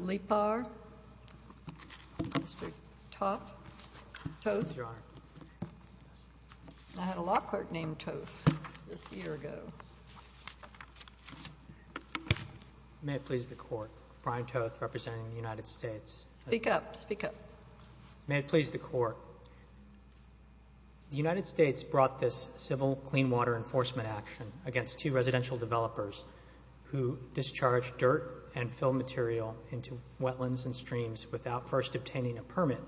Mr. Toth. I had a law clerk named Toth this year ago. May it please the court, Brian Toth representing the United States. Speak up, speak up. May it please the court, the United States brought this civil clean water enforcement action against two residential developers who discharged dirt and fill material into wetlands and streams without first obtaining a permit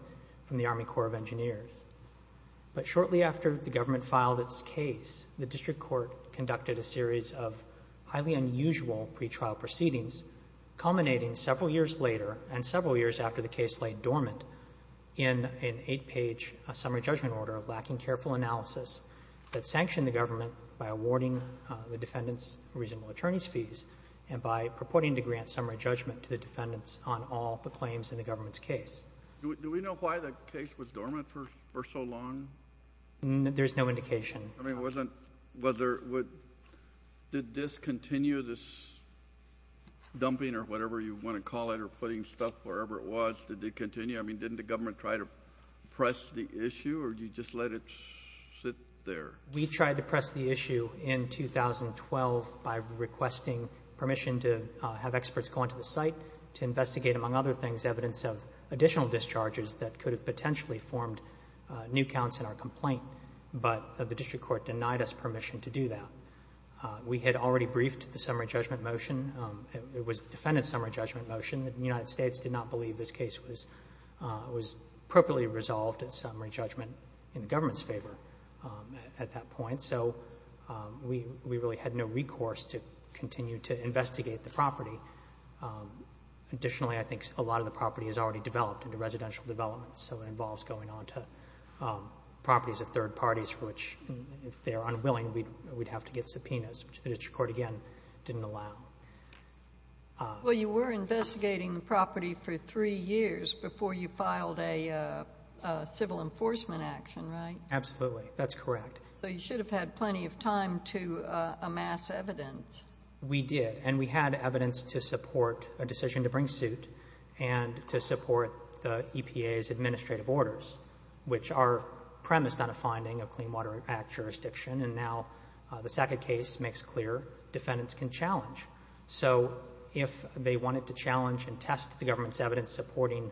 from the Army Corps of Engineers. But shortly after the government filed its case, the district court conducted a series of highly unusual pretrial proceedings, culminating several years later and several years after the case lay dormant in an eight-page summary judgment order lacking careful analysis that sanctioned the government by awarding the defendants reasonable attorneys' fees and by purporting to grant summary judgment to the defendants on all the claims in the government's case. Do we know why the case was dormant for so long? There's no indication. I mean, wasn't — was there — did this continue, this dumping or whatever you want to call it, or putting stuff wherever it was, did it continue? I mean, didn't the government try to press the issue, or did you just let it sit there? We tried to press the issue in 2012 by requesting permission to have experts go onto the site to investigate, among other things, evidence of additional discharges that could have potentially formed new counts in our complaint, but the district court denied us permission to do that. We had already briefed the summary judgment motion. It was the defendant's summary judgment motion. It was the judgment in the government's favor at that point, so we really had no recourse to continue to investigate the property. Additionally, I think a lot of the property has already developed into residential development, so it involves going onto properties of third parties for which, if they are unwilling, we'd have to get subpoenas, which the district court, again, didn't allow. Well, you were investigating the property for three years before you filed a civil enforcement action, right? Absolutely. That's correct. So you should have had plenty of time to amass evidence. We did. And we had evidence to support a decision to bring suit and to support the EPA's administrative orders, which are premised on a finding of Clean Water Act jurisdiction. And now the second case makes clear defendants can challenge. So if they wanted to challenge and test the government's evidence supporting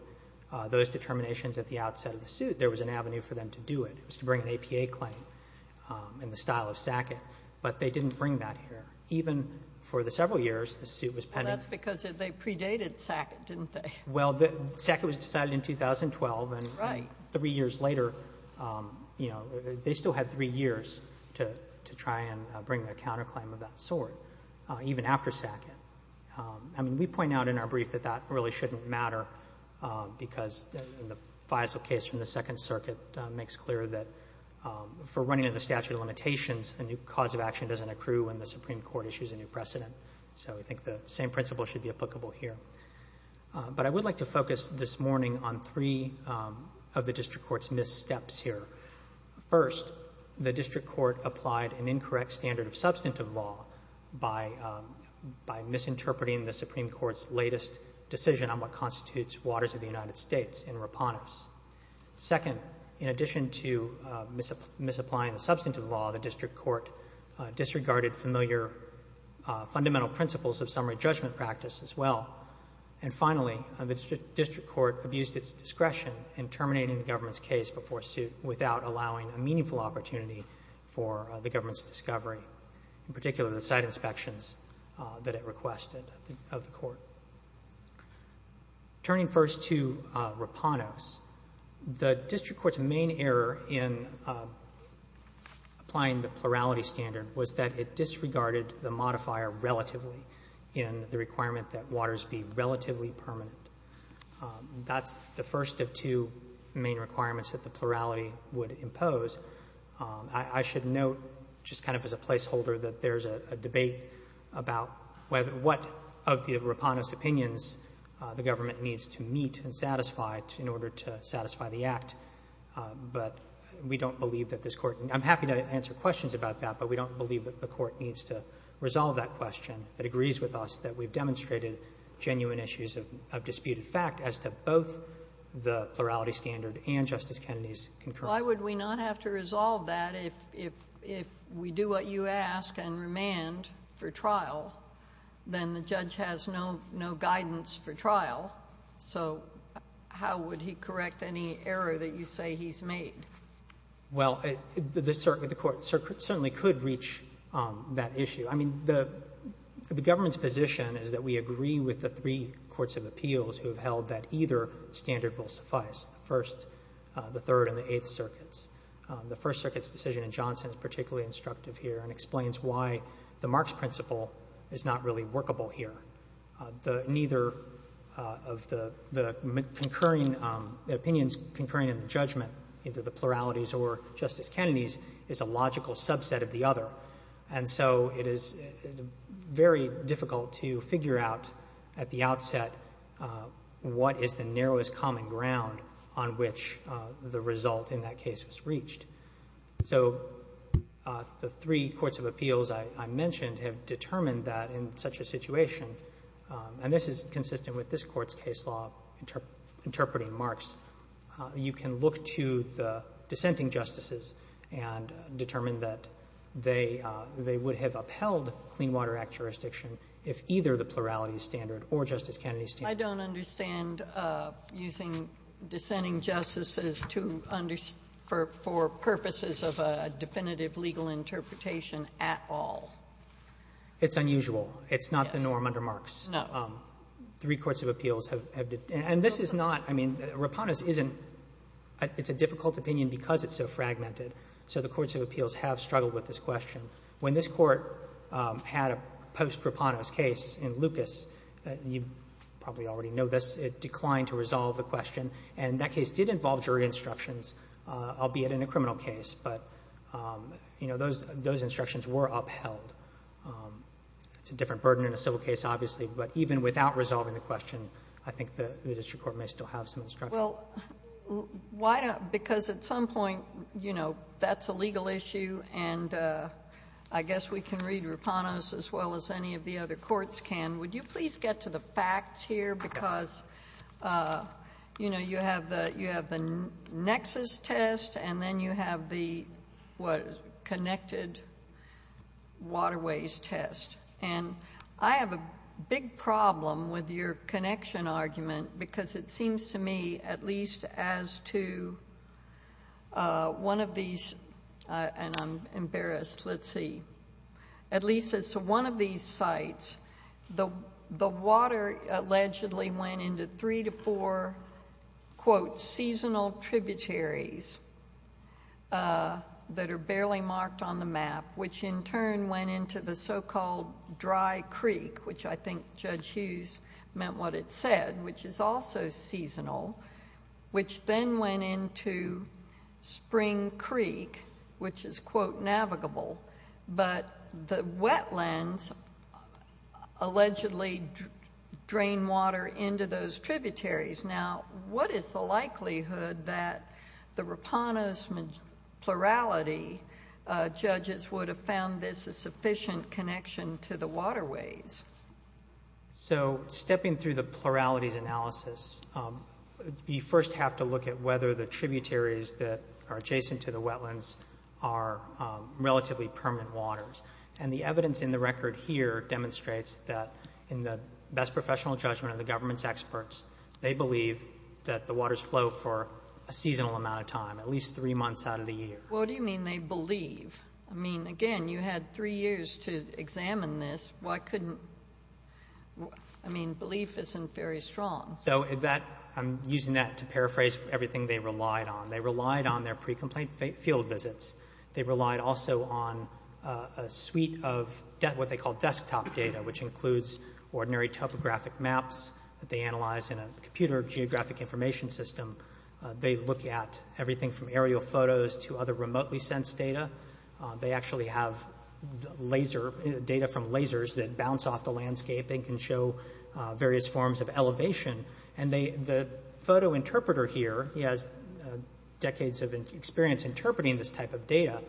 those determinations at the outset of the suit, there was an avenue for them to do it. It was to bring an APA claim in the style of Sackett, but they didn't bring that here. Even for the several years the suit was pending. Well, that's because they predated Sackett, didn't they? Well, Sackett was decided in 2012. Right. And three years later, you know, they still had three years to try and bring a counterclaim of that sort, even after Sackett. I mean, we point out in our brief that that really shouldn't matter because in the Faisal case from the Second Circuit, it makes clear that for running under the statute of limitations, a new cause of action doesn't accrue when the Supreme Court issues a new precedent. So I think the same principle should be applicable here. But I would like to focus this morning on three of the district court's missteps here. First, the district court applied an incorrect standard of substantive law by misusing and misinterpreting the Supreme Court's latest decision on what constitutes waters of the United States in Repanus. Second, in addition to misapplying the substantive law, the district court disregarded familiar fundamental principles of summary judgment practice as well. And finally, the district court abused its discretion in terminating the government's case before suit without allowing a meaningful opportunity for the government's request of the court. Turning first to Repanus, the district court's main error in applying the plurality standard was that it disregarded the modifier relatively in the requirement that waters be relatively permanent. That's the first of two main requirements that the plurality would impose. I should note, just kind of as a placeholder, that there's a debate about what of the Repanus opinions the government needs to meet and satisfy in order to satisfy the Act. But we don't believe that this Court can do that. I'm happy to answer questions about that, but we don't believe that the Court needs to resolve that question that agrees with us that we've demonstrated genuine issues of disputed fact as to both the plurality standard and Justice Kennedy's concurrence. Sotomayor, why would we not have to resolve that if we do what you ask and remand for trial, then the judge has no guidance for trial? So how would he correct any error that you say he's made? Well, the Court certainly could reach that issue. I mean, the government's position is that we agree with the three courts of appeals who have held that either standard will suffice, the first, the third, and the eighth circuits. The First Circuit's decision in Johnson is particularly instructive here and explains why the Marks principle is not really workable here. Neither of the concurring opinions, concurring in the judgment, either the pluralities or Justice Kennedy's, is a logical subset of the other. And so it is very difficult to figure out at the outset what is the narrowest common ground on which the result in that case was reached. So the three courts of appeals I mentioned have determined that in such a situation and this is consistent with this Court's case law interpreting Marks, you can look to the dissenting justices and determine that they would have upheld Clean Water Act jurisdiction if either the plurality standard or Justice Kennedy's standard Sotomayor, I don't understand using dissenting justices to understand, for purposes of a definitive legal interpretation at all. It's unusual. It's not the norm under Marks. No. Three courts of appeals have determined, and this is not, I mean, Rapanos isn't — it's a difficult opinion because it's so fragmented. So the courts of appeals have struggled with this question. When this Court had a post-Rapanos case in Lucas, you probably already know this, it declined to resolve the question. And that case did involve jury instructions, albeit in a criminal case. But, you know, those instructions were upheld. It's a different burden in a civil case, obviously. But even without resolving the question, I think the district court may still have some instruction. Well, why don't — because at some point, you know, that's a legal issue, and I guess we can read Rapanos as well as any of the other courts can. Would you please get to the facts here? Because, you know, you have the nexus test, and then you have the, what, connected waterways test. And I have a big problem with your connection argument, because it seems to me, at least as to one of these — and I'm embarrassed, let's see — at least as to one of these sites, the water allegedly went into three to four, quote, seasonal tributaries that are barely marked on the map, which in turn went into the so-called dry creek, which I think Judge Hughes meant what it said, which is also seasonal, which then went into Spring Creek, which is, quote, navigable. But the wetlands allegedly drain water into those tributaries. Now, what is the likelihood that the Rapanos plurality judges would have found this a sufficient connection to the waterways? So stepping through the pluralities analysis, you first have to look at whether the tributaries that are adjacent to the wetlands are relatively permanent waters. And the evidence in the record here demonstrates that in the best professional judgment of government's experts, they believe that the waters flow for a seasonal amount of time, at least three months out of the year. Well, what do you mean they believe? I mean, again, you had three years to examine this. Why couldn't — I mean, belief isn't very strong. So that — I'm using that to paraphrase everything they relied on. They relied on their pre-complaint field visits. They relied also on a suite of what they call desktop data, which includes ordinary topographic maps that they analyze in a computer geographic information system. They look at everything from aerial photos to other remotely sensed data. They actually have laser — data from lasers that bounce off the landscape and can show various forms of elevation. And they — the photo interpreter here, he has decades of experience interpreting this type of data,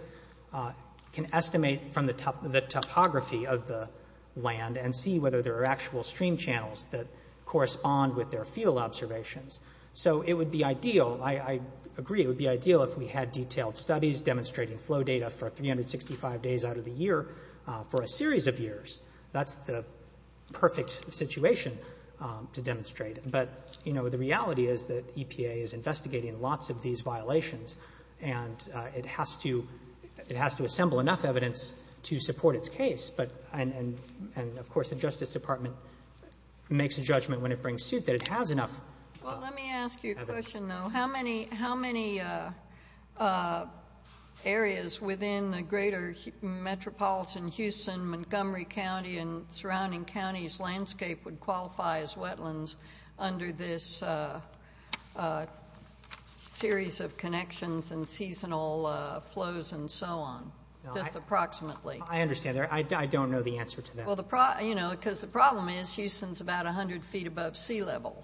can estimate from the topography of the land and see whether there are actual stream channels that correspond with their field observations. So it would be ideal — I agree, it would be ideal if we had detailed studies demonstrating flow data for 365 days out of the year for a series of years. That's the perfect situation to demonstrate. But, you know, the reality is that EPA is investigating lots of these violations, and it has to — it has to assemble enough evidence to support its case. But — and, of course, the Justice Department makes a judgment when it brings suit that it has enough evidence. Well, let me ask you a question, though. How many — how many areas within the greater metropolitan Houston, Montgomery County and surrounding counties' landscape would qualify as wetlands under this series of connections and seasonal flows and so on, just approximately? I understand that. I don't know the answer to that. Well, the — you know, because the problem is Houston's about 100 feet above sea level.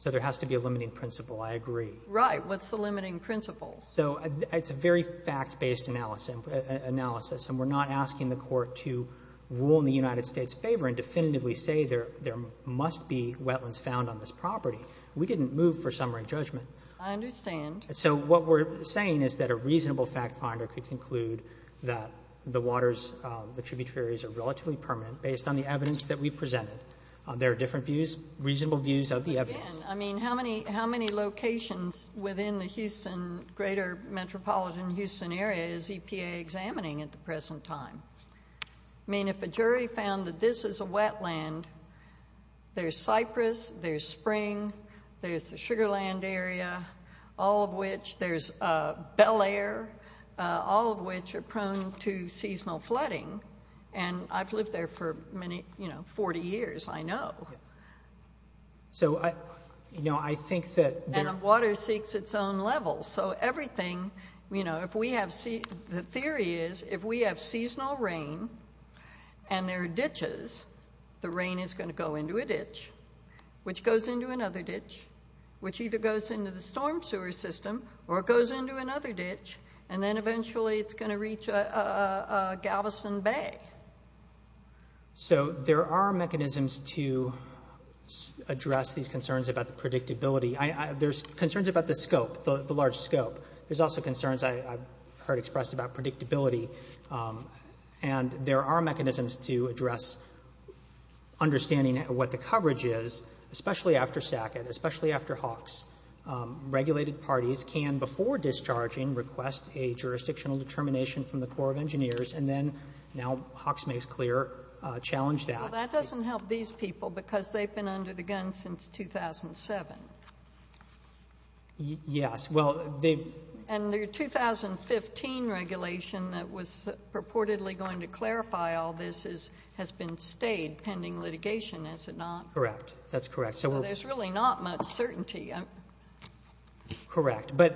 So there has to be a limiting principle. I agree. Right. What's the limiting principle? So it's a very fact-based analysis, and we're not asking the Court to rule in the United States' favor and definitively say there must be wetlands found on this property. We didn't move for summary judgment. I understand. So what we're saying is that a reasonable fact finder could conclude that the waters — the tributary areas are relatively permanent based on the evidence that we presented. There are different views, reasonable views of the evidence. Again, I mean, how many — how many locations within the Houston — greater metropolitan Houston area is EPA examining at the present time? I mean, if a jury found that this is a wetland, there's Cypress, there's Spring, there's the Sugar Land area, all of which — there's Bel Air, all of which are prone to seasonal flooding. And I've lived there for many — you know, 40 years, I know. So I — you know, I think that there — And the water seeks its own level. So everything — you know, if we have — the theory is if we have seasonal rain and there are ditches, the rain is going to go into a ditch, which goes into another ditch, which either goes into the storm sewer system or goes into another ditch, and then eventually it's going to reach Galveston Bay. So there are mechanisms to address these concerns about the predictability. There's concerns about the scope, the large scope. There's also concerns I've heard expressed about predictability. And there are mechanisms to address understanding what the coverage is, especially after SACCOT, especially after HAWKS. Regulated parties can, before discharging, request a jurisdictional determination from the Corps of Engineers, and then now HAWKS makes clear, challenge that. Well, that doesn't help these people because they've been under the gun since 2007. Yes. Well, they've — And the 2015 regulation that was purportedly going to clarify all this has been stayed pending litigation, is it not? Correct. That's correct. So we're — So there's really not much certainty. Correct. But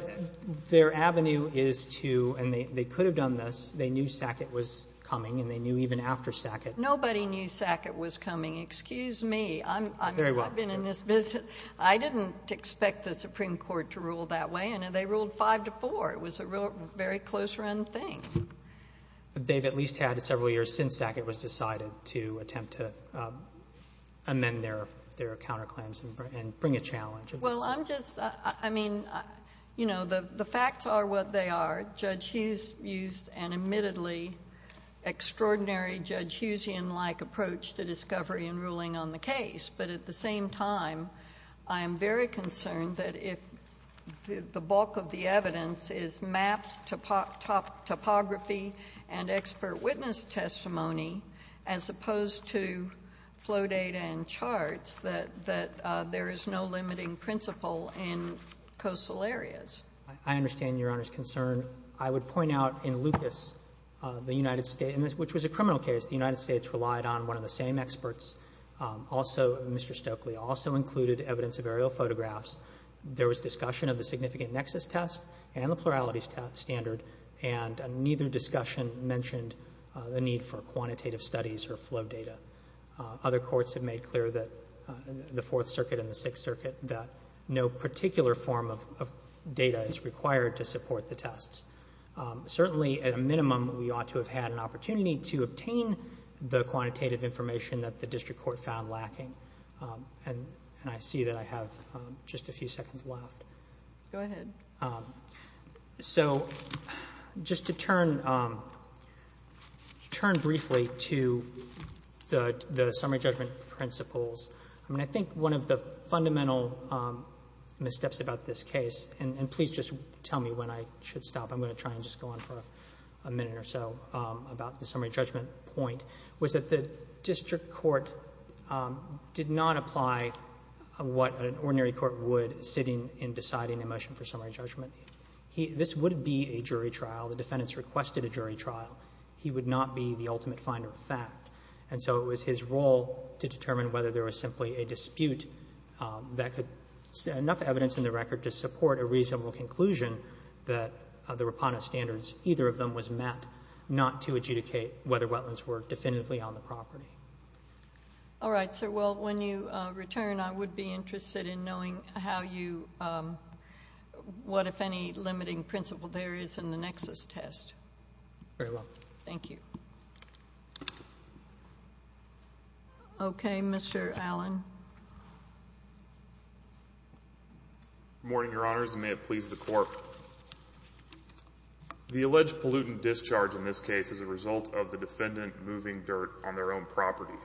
their avenue is to — and they could have done this. They knew SACCOT was coming, and they knew even after SACCOT — Nobody knew SACCOT was coming. Excuse me. I'm — Very well. I've been in this business. I didn't expect the Supreme Court to rule that way, and they ruled 5 to 4. It was a real — very close-run thing. But they've at least had several years since SACCOT was decided to attempt to amend their counterclaims and bring a challenge. Well, I'm just — I mean, you know, the facts are what they are. Judge Hughes used an admittedly extraordinary Judge Hughesian-like approach to discovery and ruling on the case. But at the same time, I am very concerned that if the bulk of the evidence is maps, topography, and expert witness testimony, as opposed to flow data and charts, that there is no limiting principle in coastal areas. I understand Your Honor's concern. I would point out in Lucas, the United States — which was a criminal case — the United States also — Mr. Stokely also included evidence of aerial photographs. There was discussion of the significant nexus test and the plurality standard, and neither discussion mentioned the need for quantitative studies or flow data. Other courts have made clear that — the Fourth Circuit and the Sixth Circuit — that no particular form of data is required to support the tests. Certainly at a minimum, we ought to have had an opportunity to obtain the quantitative information that the district court found lacking. And I see that I have just a few seconds left. Go ahead. So just to turn — turn briefly to the summary judgment principles. I mean, I think one of the fundamental missteps about this case — and please just tell me when I should stop. I'm going to try and just go on for a minute or so about the summary judgment point — was that the district court did not apply what an ordinary court would sitting in deciding a motion for summary judgment. He — this would be a jury trial. The defendants requested a jury trial. He would not be the ultimate finder of fact. And so it was his role to determine whether there was simply a dispute that could — enough evidence in the record to support a reasonable conclusion that the Rapata standards, either of them, was met, not to adjudicate whether wetlands were definitively on the property. All right, sir. Well, when you return, I would be interested in knowing how you — what, if any, limiting principle there is in the nexus test. Very well. Thank you. Okay. Mr. Allen. Good morning, Your Honors, and may it please the Court. The alleged pollutant discharge in this case is a result of the defendant moving dirt on their own property.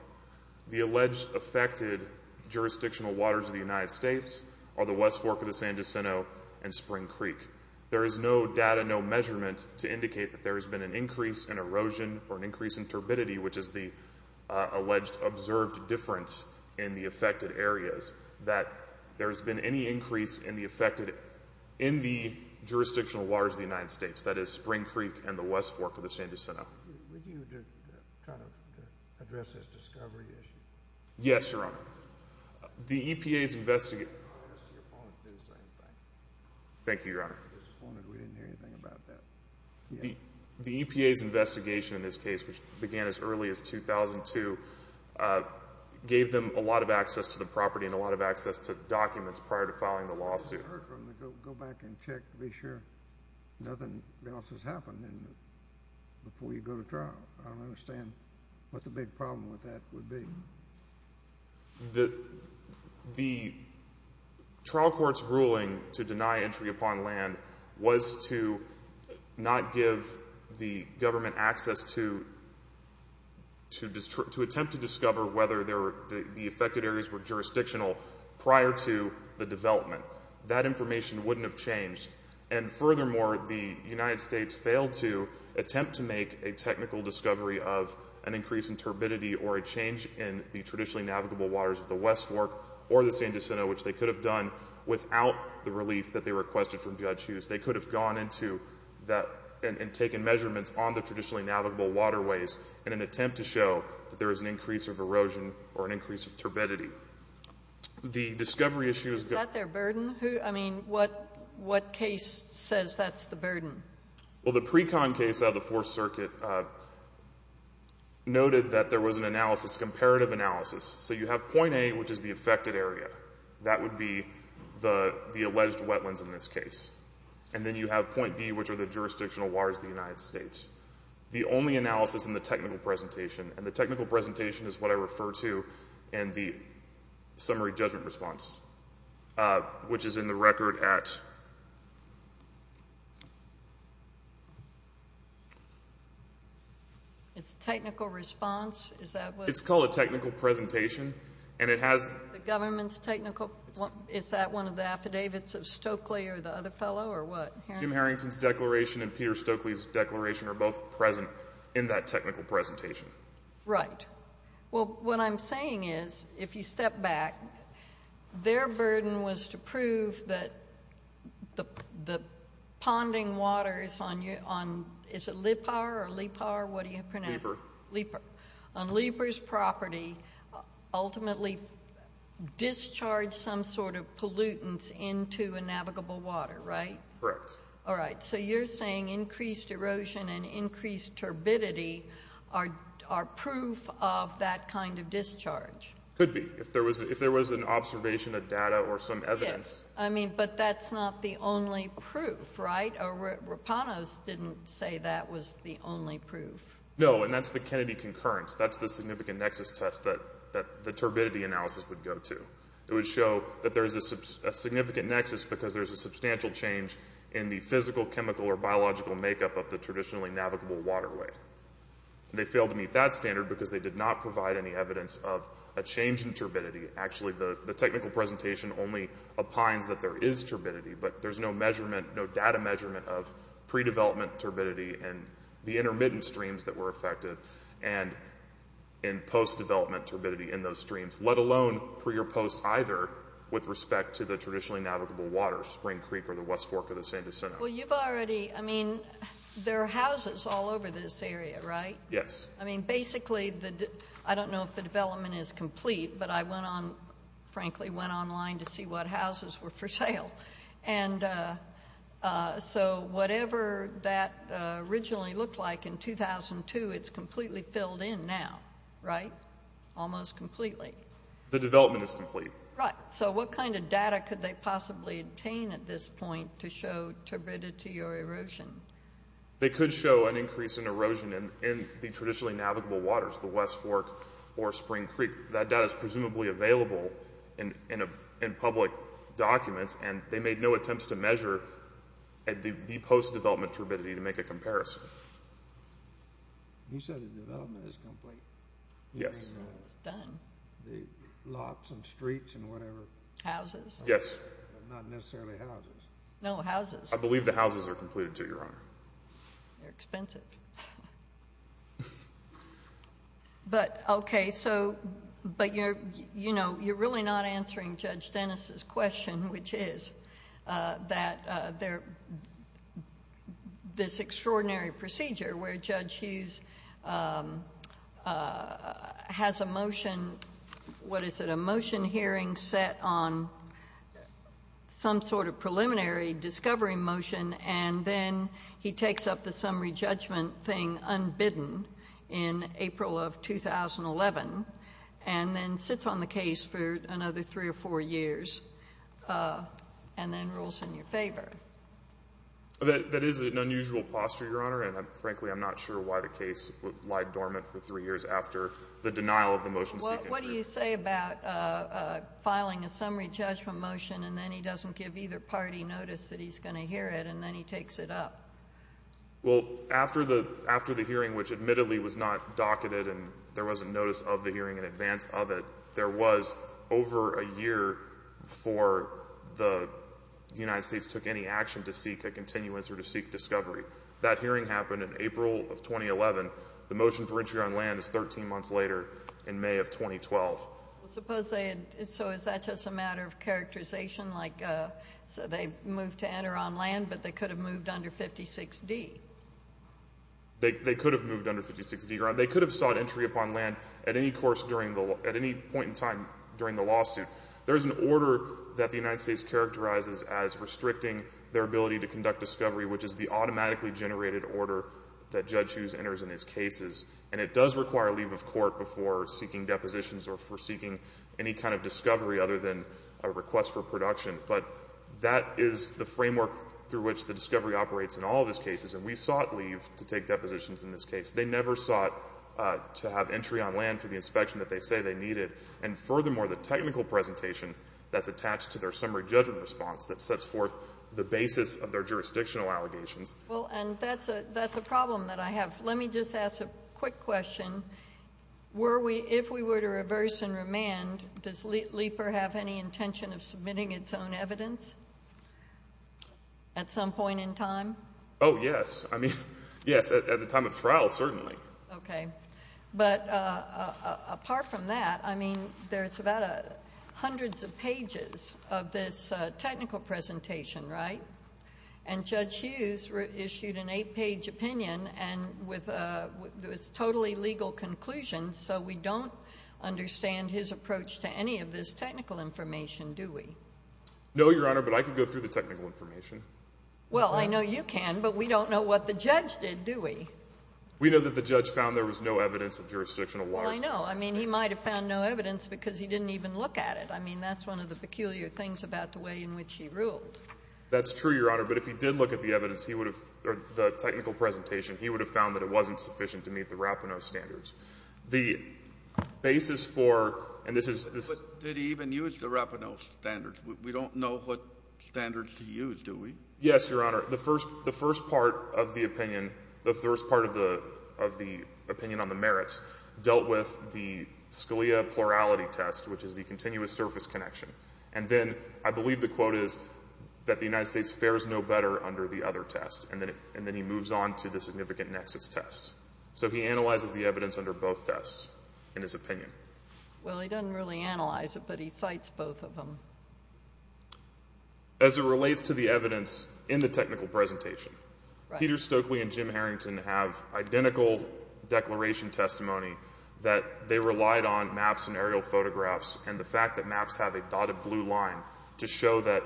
The alleged affected jurisdictional waters of the United States are the West Fork of the San Jacinto and Spring Creek. There is no data, no measurement to indicate that there has been an increase in erosion or an increase in turbidity, which is the alleged observed difference in the affected areas, that there has been any increase in the affected — in the jurisdictional waters of the United States, that is, Spring Creek and the West Fork of the San Jacinto. Would you try to address this discovery issue? Yes, Your Honor. The EPA's — No, I asked your opponent to do the same thing. Thank you, Your Honor. I just wondered. We didn't hear anything about that. The EPA's investigation in this case, which began as early as 2002, gave them a lot of access to property and a lot of access to documents prior to filing the lawsuit. I heard from them to go back and check to be sure nothing else has happened before you go to trial. I don't understand what the big problem with that would be. The trial court's ruling to deny entry upon land was to not give the government access to attempt to discover whether the affected areas were jurisdictional prior to the development. That information wouldn't have changed. And furthermore, the United States failed to attempt to make a technical discovery of an increase in turbidity or a change in the traditionally navigable waters of the West Fork or the San Jacinto, which they could have done without the relief that they requested from Judge Hughes. They could have gone into that and taken measurements on the traditionally navigable waterways in an attempt to show that there is an increase of erosion or an increase of turbidity. Is that their burden? I mean, what case says that's the burden? Well, the Precon case out of the Fourth Circuit noted that there was an analysis, a comparative analysis. So you have point A, which is the affected area. That would be the alleged wetlands in this case. And then you have point B, which are the jurisdictional waters of the United States. The only analysis in the technical presentation, and the technical presentation is what I refer to in the summary judgment response, which is in the record at... It's a technical response? It's called a technical presentation. And it has... The government's technical... Is that one of the affidavits of Stokely or the other fellow, or what? Jim Harrington's declaration and Peter Stokely's declaration are both present in that technical presentation. Right. Well, what I'm saying is, if you step back, their burden was to prove that the ponding waters on... Is it Lipar or Lepar? What do you pronounce? Lepar. Lepar. Lepar's property ultimately discharged some sort of pollutants into a navigable water, right? Correct. All right. So you're saying increased erosion and increased turbidity are proof of that kind of discharge? Could be, if there was an observation of data or some evidence. Yes. I mean, but that's not the only proof, right? Rapanos didn't say that was the only proof. No, and that's the Kennedy concurrence. That's the significant nexus test that the turbidity analysis would go to. It would show that there's a significant nexus because there's a substantial change in the physical, chemical, or biological makeup of the traditionally navigable waterway. They failed to meet that standard because they did not provide any evidence of a change in turbidity. Actually, the technical presentation only opines that there is turbidity, but there's no measurement, no data measurement of pre-development turbidity and the intermittent streams that were affected. And in post-development turbidity in those streams, let alone pre or post either with respect to the traditionally navigable water, Spring Creek or the West Fork or the San Jacinto. Well, you've already, I mean, there are houses all over this area, right? Yes. I mean, basically, I don't know if the development is complete, but I went on, frankly, went online to see what houses were for sale. And so whatever that originally looked like in 2002, it's completely filled in now, right? Almost completely. The development is complete. Right. So what kind of data could they possibly obtain at this point to show turbidity or erosion? They could show an increase in erosion in the traditionally navigable waters, the West Fork or Spring Creek. That data is presumably available in public documents, and they made no attempts to measure the post-development turbidity to make a comparison. You said the development is complete. Yes. It's done. The lots and streets and whatever. Houses. Yes. Not necessarily houses. No, houses. I believe the houses are completed too, Your Honor. They're expensive. But, okay, so, but you're, you know, you're really not answering Judge Dennis's question, which is that there, this extraordinary procedure where Judge Hughes has a motion, what is it, a motion hearing set on some sort of preliminary discovery motion, and then he takes up the summary judgment thing unbidden in April of 2011, and then sits on the case for another three or four years, and then rules in your favor. That is an unusual posture, Your Honor, and, frankly, I'm not sure why the case lied dormant for three years after the denial of the motion. Well, what do you say about filing a summary judgment motion, and then he doesn't give either party notice that he's going to hear it, and then he takes it up? Well, after the, after the hearing, which admittedly was not docketed, and there wasn't notice of the hearing in advance of it, there was over a year before the United States took any action to seek a continuance or to seek discovery. That hearing happened in April of 2011. The motion for entry on land is 13 months later, in May of 2012. Well, suppose they had, so is that just a matter of characterization, like, so they moved to enter on land, but they could have moved under 56D? They could have moved under 56D, Your Honor. They could have sought entry upon land at any course during the, at any point in time during the lawsuit. There is an order that the United States characterizes as restricting their ability to conduct discovery, which is the automatically generated order that Judge Hughes enters in his cases, and it does require leave of court before seeking depositions or for seeking any kind of discovery other than a request for production. But that is the framework through which the discovery operates in all of his cases, and we sought leave to take depositions in this case. They never sought to have entry on land for the inspection that they say they needed, and furthermore, the technical presentation that's attached to their summary judgment response that sets forth the basis of their jurisdictional allegations. Well, and that's a problem that I have. Let me just ask a quick question. Were we, if we were to reverse and remand, does LIEPER have any intention of submitting its own evidence at some point in time? Oh, yes. I mean, yes, at the time of trial, certainly. Okay. But apart from that, I mean, there's about hundreds of pages of this technical presentation, right? And Judge Hughes issued an eight-page opinion and with a totally legal conclusion, so we don't understand his approach to any of this technical information, do we? No, Your Honor, but I could go through the technical information. Well, I know you can, but we don't know what the judge did, do we? We know that the judge found there was no evidence of jurisdictional water. Well, I know. I mean, he might have found no evidence because he didn't even look at it. I mean, that's one of the peculiar things about the way in which he ruled. That's true, Your Honor, but if he did look at the evidence, he would have, or the technical presentation, he would have found that it wasn't sufficient to meet the Rapinoe standards. The basis for, and this is... But did he even use the Rapinoe standards? We don't know what standards he used, do we? Yes, Your Honor. The first part of the opinion, the first part of the opinion on the merits, dealt with the Scalia plurality test, which is the continuous surface connection. And then I believe the quote is that the United States fares no better under the other test. And then he moves on to the significant nexus test. So he analyzes the evidence under both tests in his opinion. Well, he doesn't really analyze it, but he cites both of them. As it relates to the evidence in the technical presentation, Peter Stokely and Jim Harrington have identical declaration testimony that they relied on maps and aerial photographs and the fact that maps have a dotted blue line to show that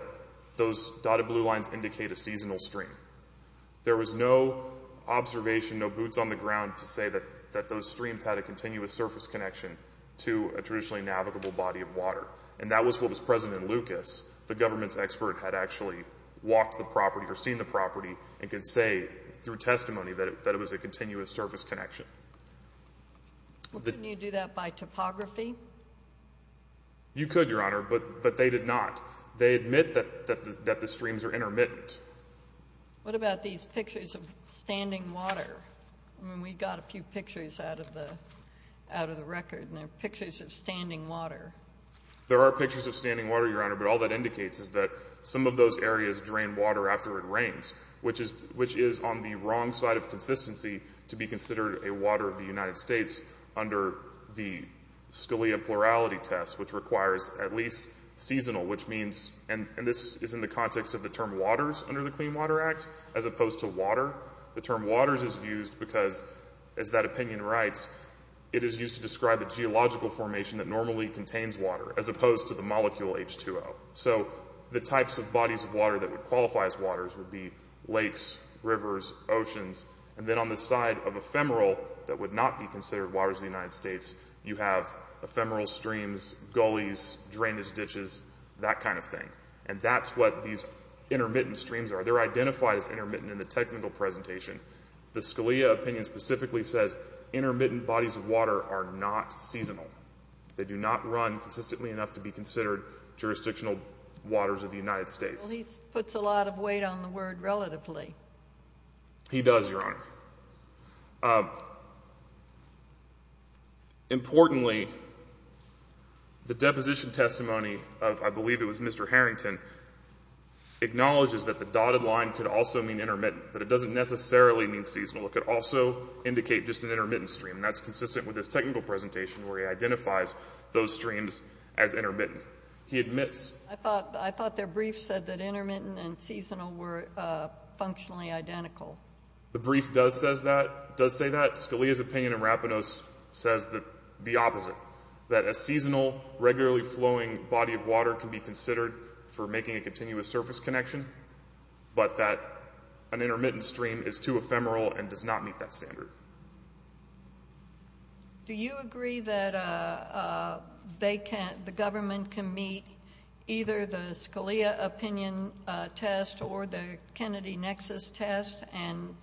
those dotted blue lines indicate a seasonal stream. There was no observation, no boots on the ground to say that those streams had a continuous surface connection to a traditionally navigable body of water. And that was what was present in Lucas. The government's expert had actually walked the property or seen the property and could say through testimony that it was a continuous surface connection. Well, couldn't you do that by topography? You could, Your Honor, but they did not. They admit that the streams are intermittent. What about these pictures of standing water? I mean, we got a few pictures out of the record and they're pictures of standing water. There are pictures of standing water, Your Honor, but all that indicates is that some of those areas drain water after it rains, which is on the wrong side of consistency to be considered a water of the United States under the Scalia plurality test, which requires at least seasonal, which means, and this is in the context of the term water, the term waters under the Clean Water Act as opposed to water. The term waters is used because, as that opinion writes, it is used to describe a geological formation that normally contains water as opposed to the molecule H2O. So the types of bodies of water that would qualify as waters would be lakes, rivers, oceans. And then on the side of ephemeral that would not be considered waters of the United States, you have ephemeral streams, gullies, drainage ditches, that kind of thing. And that's what these intermittent streams are. They're identified as intermittent in the technical presentation. The Scalia opinion specifically says intermittent bodies of water are not seasonal. They do not run consistently enough to be considered jurisdictional waters of the United States. Well, he puts a lot of weight on the word relatively. He does, Your Honor. Importantly, the deposition testimony of, I believe it was Mr. Harrington, acknowledges that the dotted line could also mean intermittent, but it doesn't necessarily mean seasonal. It could also indicate just an intermittent stream, and that's consistent with his technical presentation where he identifies those streams as intermittent. He admits... I thought their brief said that intermittent and seasonal were functionally identical. The brief does say that. Scalia's opinion in Rapinos says the opposite, that a seasonal, regularly flowing body of water can be considered for making a continuous surface connection, but that an intermittent stream is too ephemeral and does not meet that standard. Do you agree that they can't... the government can meet either the Scalia opinion test or the Kennedy nexus test and,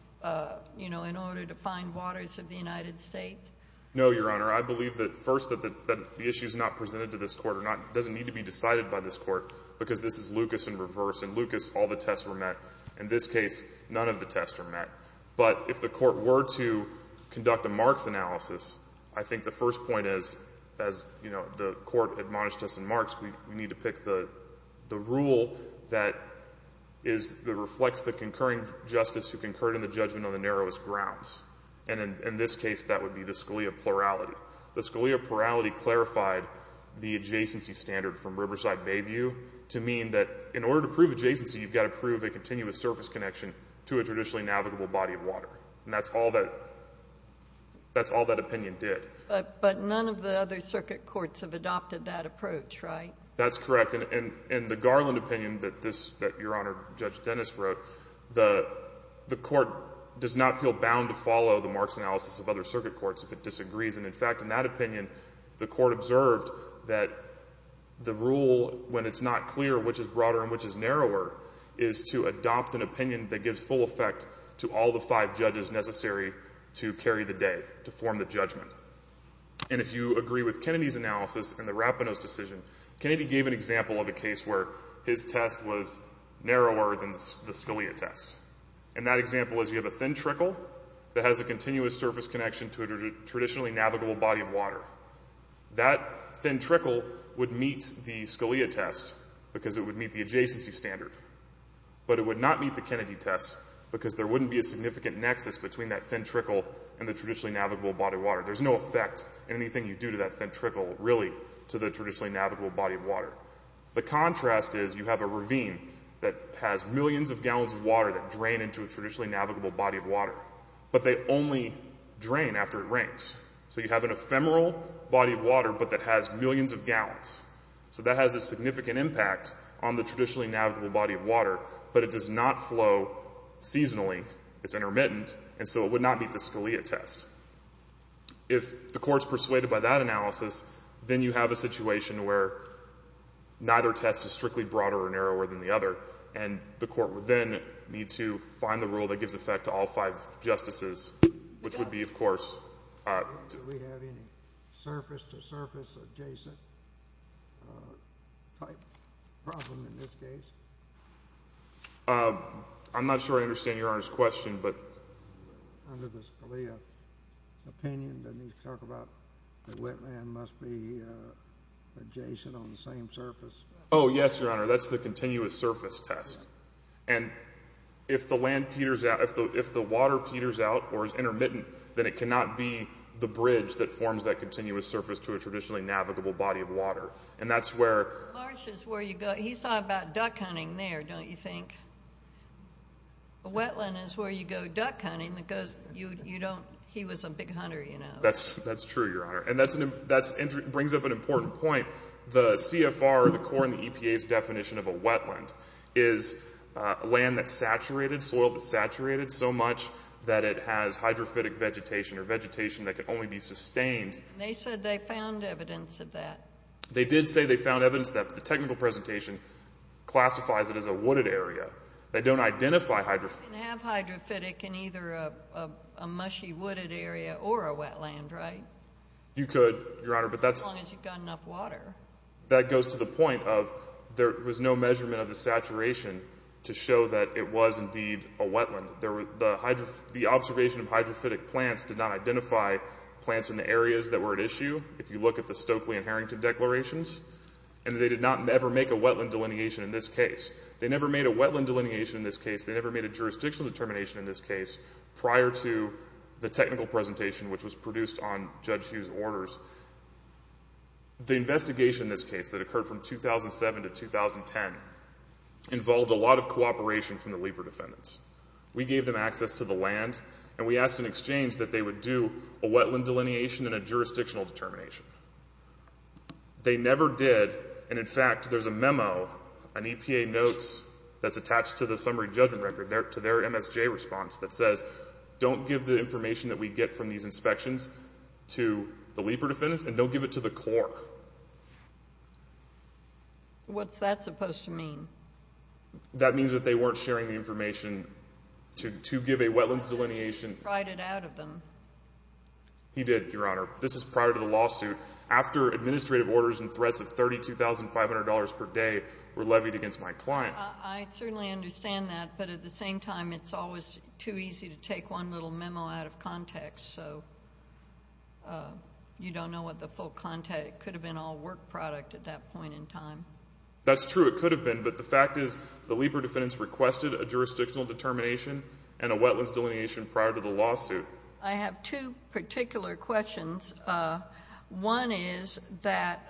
you know, in order to find waters of the United States? No, Your Honor. I believe that, first, that the issue which is not presented to this Court doesn't need to be decided by this Court because this is Lucas in reverse. In Lucas, all the tests were met. In this case, none of the tests were met. But if the Court were to conduct a Marx analysis, I think the first point is, as, you know, the Court admonished us in Marx, we need to pick the rule that reflects the concurring justice who concurred in the judgment on the narrowest grounds. And in this case, that would be the Scalia plurality. The Scalia plurality clarified the adjacency standard from Riverside Bayview to mean that in order to prove adjacency, you've got to prove a continuous surface connection to a traditionally navigable body of water. And that's all that... that's all that opinion did. But none of the other circuit courts have adopted that approach, right? That's correct. And the Garland opinion that this... that Your Honor, Judge Dennis wrote, the Court does not feel bound to follow the Marx analysis of other circuit courts if it disagrees. And in fact, in that opinion, the Court observed that the rule, when it's not clear which is broader and which is narrower, is to adopt an opinion that gives full effect to all the five judges necessary to carry the day, to form the judgment. And if you agree with Kennedy's analysis and the Rapinoe's decision, Kennedy gave an example of a case where his test was narrower than the Scalia test. And that example is, you have a thin trickle that has a continuous surface connection to a traditionally navigable body of water. That thin trickle would meet the Scalia test because it would meet the adjacency standard. But it would not meet the Kennedy test because there wouldn't be a significant nexus between that thin trickle and the traditionally navigable body of water. There's no effect in anything you do to that thin trickle, really, to the traditionally navigable body of water. The contrast is, you have a ravine that has millions of gallons of water that drain into a traditionally navigable body of water. But they only drain after it rains. So you have an ephemeral body of water but that has millions of gallons. So that has a significant impact on the traditionally navigable body of water. But it does not flow seasonally. It's intermittent. And so it would not meet the Scalia test. If the Court's persuaded by that analysis, then you have a situation where neither test is strictly broader or narrower than the other. And the Court would then need to find the rule that gives effect to all five Justices, which would be, of course... Do we have any surface-to-surface adjacent type problem in this case? I'm not sure I understand Your Honor's question, but... Under the Scalia opinion, doesn't he talk about that wetland must be adjacent on the same surface? That's the continuous surface test. And if the land peters out on the surface, if the water peters out or is intermittent, then it cannot be the bridge that forms that continuous surface to a traditionally navigable body of water. And that's where... Marsh is where you go. He's talking about duck hunting there, don't you think? A wetland is where you go duck hunting because he was a big hunter, you know. That's true, Your Honor. And that brings up an important point. The CFR, the CORE, and the EPA's are saturated so much that it has hydrophytic vegetation or vegetation that can only be sustained. And they said they found evidence of that. They did say they found evidence of that, but the technical presentation classifies it as a wooded area. They don't identify... You can't have hydrophytic in either a mushy wooded area or a wetland, right? You could, Your Honor, but that's... As long as you've got enough water. That goes to the point of there was no measurement of the saturation to show that it was indeed a wetland. The observation of hydrophytic plants did not identify plants in the areas that were at issue. If you look at the Stokely and Harrington declarations. And they did not ever make a wetland delineation in this case. They never made a wetland delineation in this case. They never made a jurisdictional determination in this case prior to the technical presentation which was produced on Judge Hughes' orders. The investigation in this case that occurred from 2007 to 2010 involved a lot of cooperation from the LEPR defendants. We gave them access to the land and we asked in exchange that they would do a wetland delineation and a jurisdictional determination. They never did and in fact there's a memo on EPA notes that's attached to the summary judgment record, to their MSJ response that says don't give to the LEPR defendants and don't give it to the Corps. What's that supposed to mean? That means that they weren't sharing the information to give a wetlands delineation. He spried it out of them. He did, Your Honor. This is prior to the lawsuit after administrative orders and threats of $32,500 per day were levied against my client. I certainly understand that but at the same time it's always too easy to take one little memo out of context so you don't know what the full context could have been all work product at that point in time. That's true. It could have been but the fact is the LEPR defendants requested a jurisdictional determination and a wetlands delineation prior to the lawsuit. I have two particular questions. One is that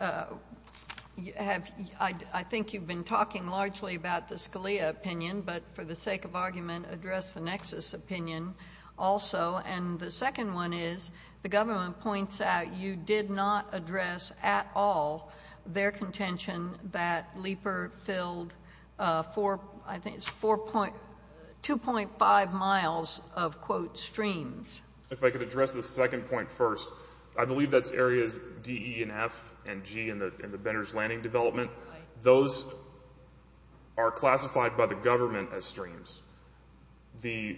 I think you've been talking largely about the Scalia opinion but for the sake of argument address the Nexus opinion also and the second one is the government points out you did not address at all their contention that LEPR filled I think it's 2.5 miles of quote streams. If I could address the second point first. I believe that's areas D, E, and F and G in the Benner's Landing development. Those are classified by the government as streams. The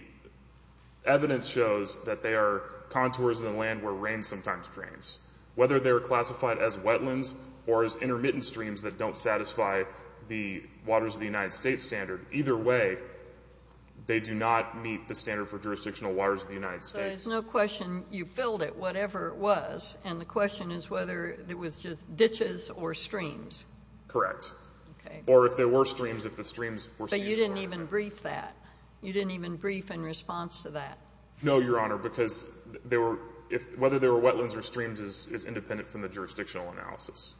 evidence shows that they are contours of the land where rain sometimes drains. Whether they are classified as wetlands or as intermittent streams that don't satisfy the waters of the United States standard. Either way they do not meet the standard for jurisdictional waters of the United States. So there's no question you filled it whatever it was and the question is whether it was just ditches or streams. Correct. Or if there were streams if the streams were stationary. But you didn't even brief that. You didn't even brief in response to that. No your honor because whether they were wetlands or streams is independent from the jurisdictional analysis.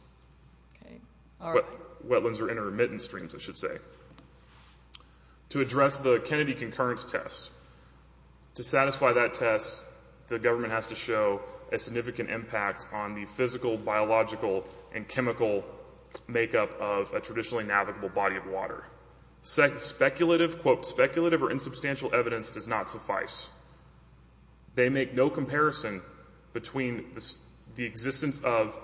Wetlands or intermittent streams I should say. To address the Kennedy concurrence test to satisfy that test the government has to show a significant impact on the physical, biological, and chemical makeup of a traditionally navigable body of water. Speculative or insubstantial evidence does not suffice. They make no comparison between the existence of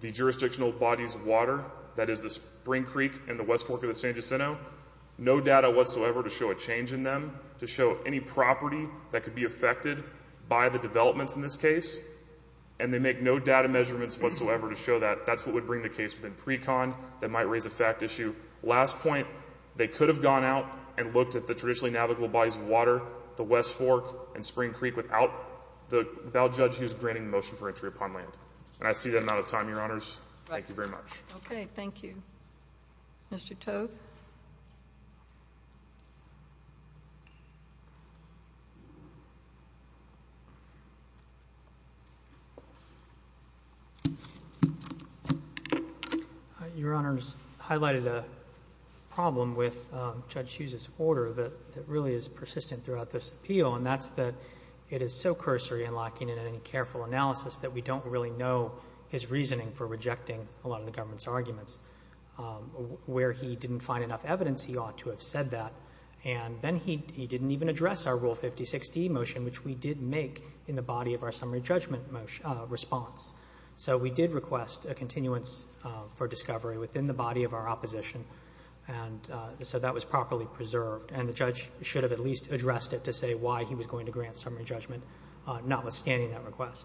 the jurisdictional bodies of water that is the Spring Creek and the West Fork of the San Jacinto. No data whatsoever to show a change in them. To show any property that could be affected by the developments in this case. And they make no data measurements whatsoever to show that that's what would bring the case within pre-con that might raise a fact issue. Last point they could have gone out and looked at the traditionally navigable bodies of water, the West Fork and Spring Creek without the judge granting the motion for entry upon land. And I see that I'm out of time your honors. Thank you very much. Thank you. Mr. Toth. Your honors. Your honors highlighted a problem with Judge Hughes' order that really is persistent throughout this appeal. And that's that it is so cursory in locking in any careful analysis that we don't really know his reasoning for rejecting a lot of the government's arguments. Where he didn't find enough evidence, he ought to have said that. And then he didn't even address our Rule 56d motion, which we did make in the body of our summary judgment response. So we did request a continuance for discovery within the body of our opposition. And so that was properly preserved. And the judge should have at least addressed it to say why he was going to grant summary judgment, notwithstanding that request.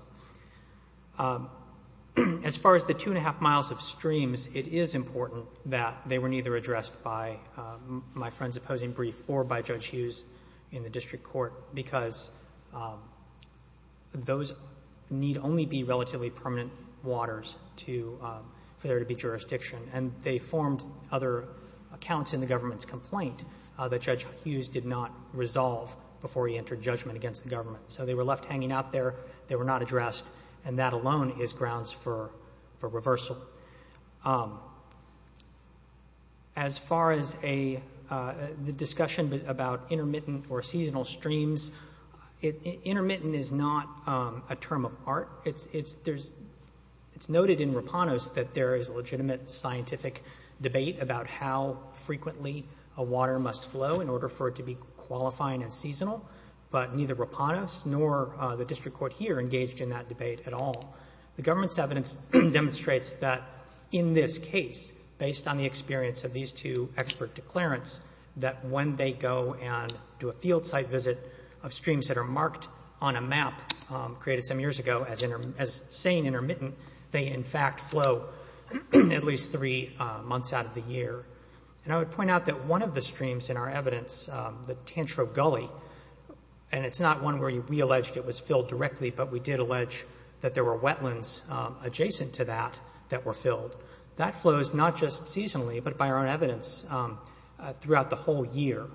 As far as the two and a half miles of streams, it is important that they were neither addressed by my friend's opposing brief or by Judge Hughes in the district court, because those need only be relatively permanent waters to for there to be jurisdiction. And they formed other accounts in the government's complaint that Judge Hughes did not resolve before he entered judgment against the government. So they were left hanging out there. They were not addressed. And that is controversial. As far as the discussion about intermittent or seasonal streams, intermittent is not a term of art. It's noted in Rapanos that there is a legitimate scientific debate about how frequently a water must flow in order for it to be qualifying as seasonal. But neither Rapanos nor the district court here engaged in that debate at all. The government's evidence demonstrates that in this case, based on the experience of these two expert declarants, that when they go and do a field site visit of streams that are marked on a map created some years ago as saying intermittent, they in fact flow at least three months out of the year. And I would point out that one of the streams in our evidence, the Tantro Gully, and it's not one where we alleged it was filled directly, but we did allege that there were wetlands adjacent to that that were filled. That flows not just seasonally, but by our own evidence throughout the whole year.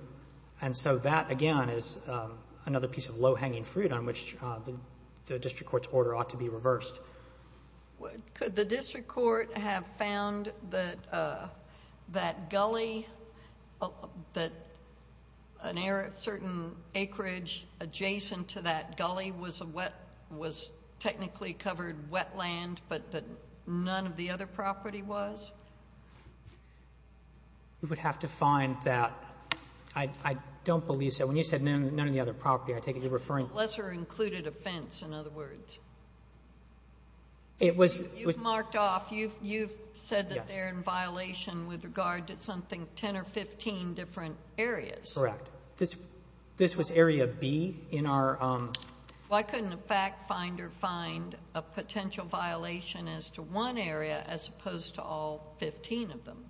And so that, again, is another piece of low-hanging fruit on which the district court's order ought to be reversed. Could the district court have found that gully, that certain acreage adjacent to that gully was technically covered wetland but that none of the other property was? You would have to find that. I don't believe so. When you said none of the other property, I take it you're referring... It's a lesser included offense, in other words. You've marked off, you've said that they're in violation with regard to something, 10 or 15 different areas. Correct. This was Area B in our... Why couldn't a fact finder find a potential violation as to one area as opposed to all 15 of them?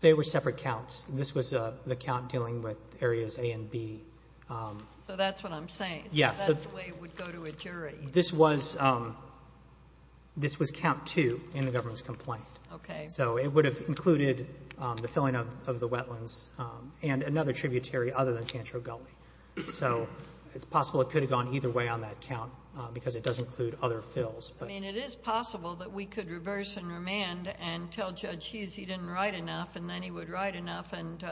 They were separate counts. This was the count dealing with areas A and B. So that's what I'm saying. So that's the way it would go to a jury. This was count 2 in the government's complaint. Okay. So it would have included the filling of the wetlands and another tributary other than Cancho Gully. So it's possible it could have gone either way on that count because it does include other fills. I mean, it is possible that we could reverse and remand and tell Judge Hughes he didn't write enough and then he would write enough and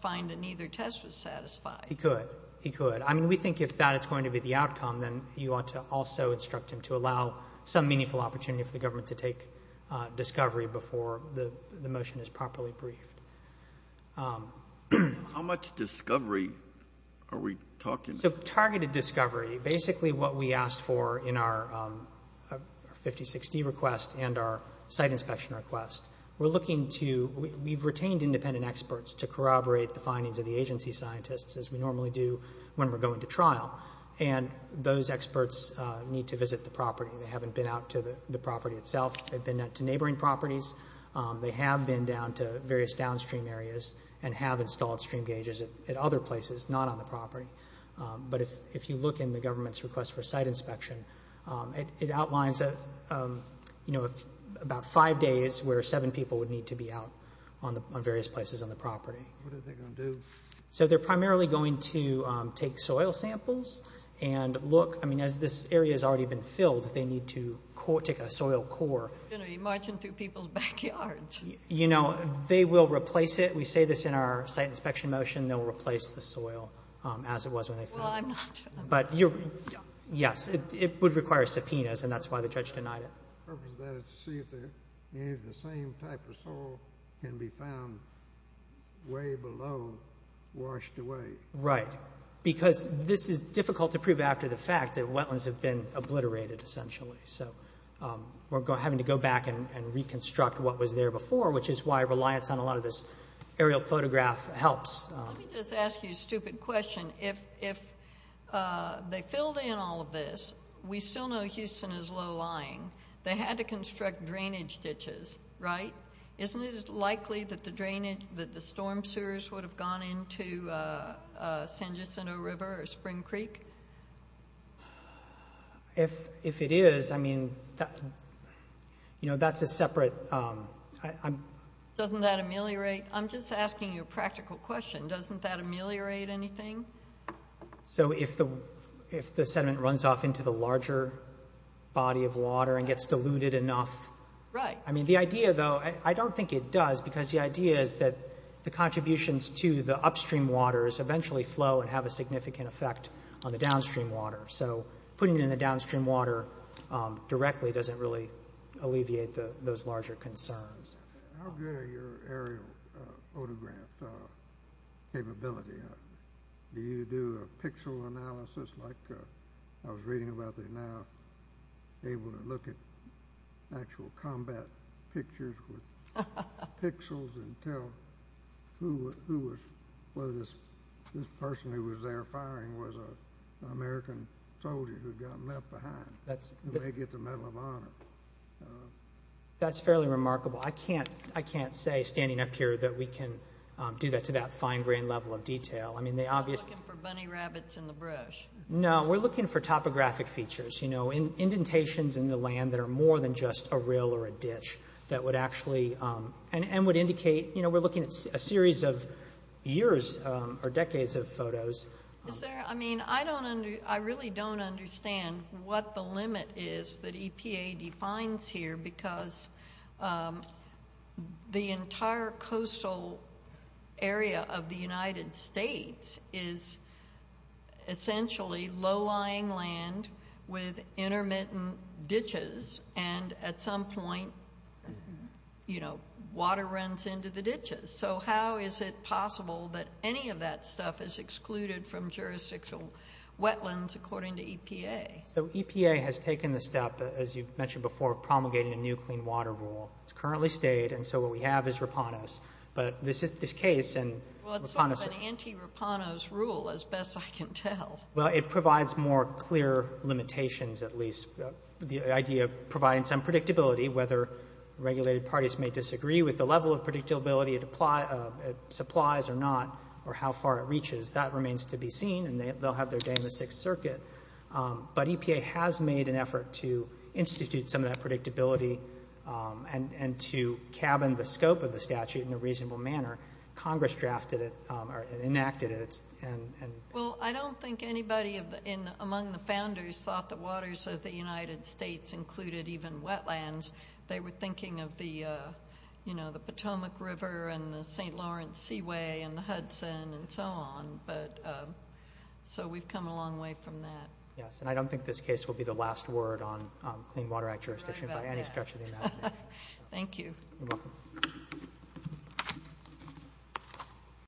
find that neither test was satisfied. He could. He could. I mean, we think if that is going to be the outcome, then you ought to also instruct him to allow some meaningful opportunity for the government to take discovery before the trial. How much discovery are we talking? So targeted discovery, basically what we asked for in our 5060 request and our site inspection request, we're looking to we've retained independent experts to corroborate the findings of the agency scientists as we normally do when we're going to trial. And those experts need to visit the property. They haven't been out to the property itself. They've been out to neighboring properties. They have been down to various downstream areas and have installed stream gauges at other places, not on the property. But if you look in the government's request for site inspection, it outlines about five days where seven people would need to be out on various places on the property. What are they going to do? So they're primarily going to take soil samples and look I mean, as this area has already been filled, they need to take a soil core. You're marching through people's backyards. You know, they will replace it. We say this in our site inspection motion. They'll replace the soil as it was when they filled it. Yes, it would require subpoenas, and that's why the judge denied it. The purpose of that is to see if any of the same type of soil can be found way below, washed away. Right. Because this is difficult to prove after the fact that wetlands have been obliterated, essentially. So we're having to go back and reconstruct what was there before, which is why reliance on a lot of this aerial photograph helps. Let me just ask you a stupid question. If they filled in all of this, we still know Houston is low-lying. They had to construct drainage ditches, right? Isn't it likely that the storm sewers would have gone into San Jacinto River or Spring Creek? If it is, I mean, you know, that's a separate... Doesn't that ameliorate... I'm just asking you a practical question. Doesn't that ameliorate anything? So if the sediment runs off into the larger body of water and gets diluted enough... Right. I mean, the idea, though, I don't think it does because the idea is that the contributions to the upstream waters eventually flow and have a significant effect on the downstream water. So putting it in the downstream water directly doesn't really alleviate those larger concerns. How good are your aerial autograph capability? Do you do a pixel analysis like I was reading about they're now able to look at actual combat pictures with pixels and tell who was... who was the American soldier who got left behind and may get the Medal of Honor? That's fairly remarkable. I can't say, standing up here, that we can do that to that fine-grained level of detail. You're not looking for bunny rabbits in the brush. No, we're looking for topographic features. You know, indentations in the land that are more than just a rill or a ditch that would actually... and would indicate... You know, we're looking at a series of years or decades of photos. Is there... I mean, I don't... I really don't understand what the limit is that EPA defines here because the entire coastal area of the United States is essentially low-lying land with intermittent ditches and at some point you know, water runs into the ditches. So how is it possible that any of that stuff is excluded from jurisdictional wetlands according to EPA? EPA has taken the step, as you mentioned before, of promulgating a new clean water rule. It's currently stayed, and so what we have is Rapanos. But this case and Rapanos... Well, it's sort of an anti-Rapanos rule, as best I can tell. Well, it provides more clear limitations, at least. The idea of providing some predictability, whether regulated parties may supply it or not, or how far it reaches, that remains to be seen, and they'll have their day in the Sixth Circuit. But EPA has made an effort to institute some of that predictability and to cabin the scope of the statute in a reasonable manner. Congress drafted it, or enacted it, and... Well, I don't think anybody among the founders thought the waters of the United States included even wetlands. They were thinking of the Potomac River and the St. Lawrence Seaway and the Hudson and so on, but... So we've come a long way from that. Yes, and I don't think this case will be the last word on Clean Water Act jurisdiction by any stretch of the imagination. Thank you. You're welcome.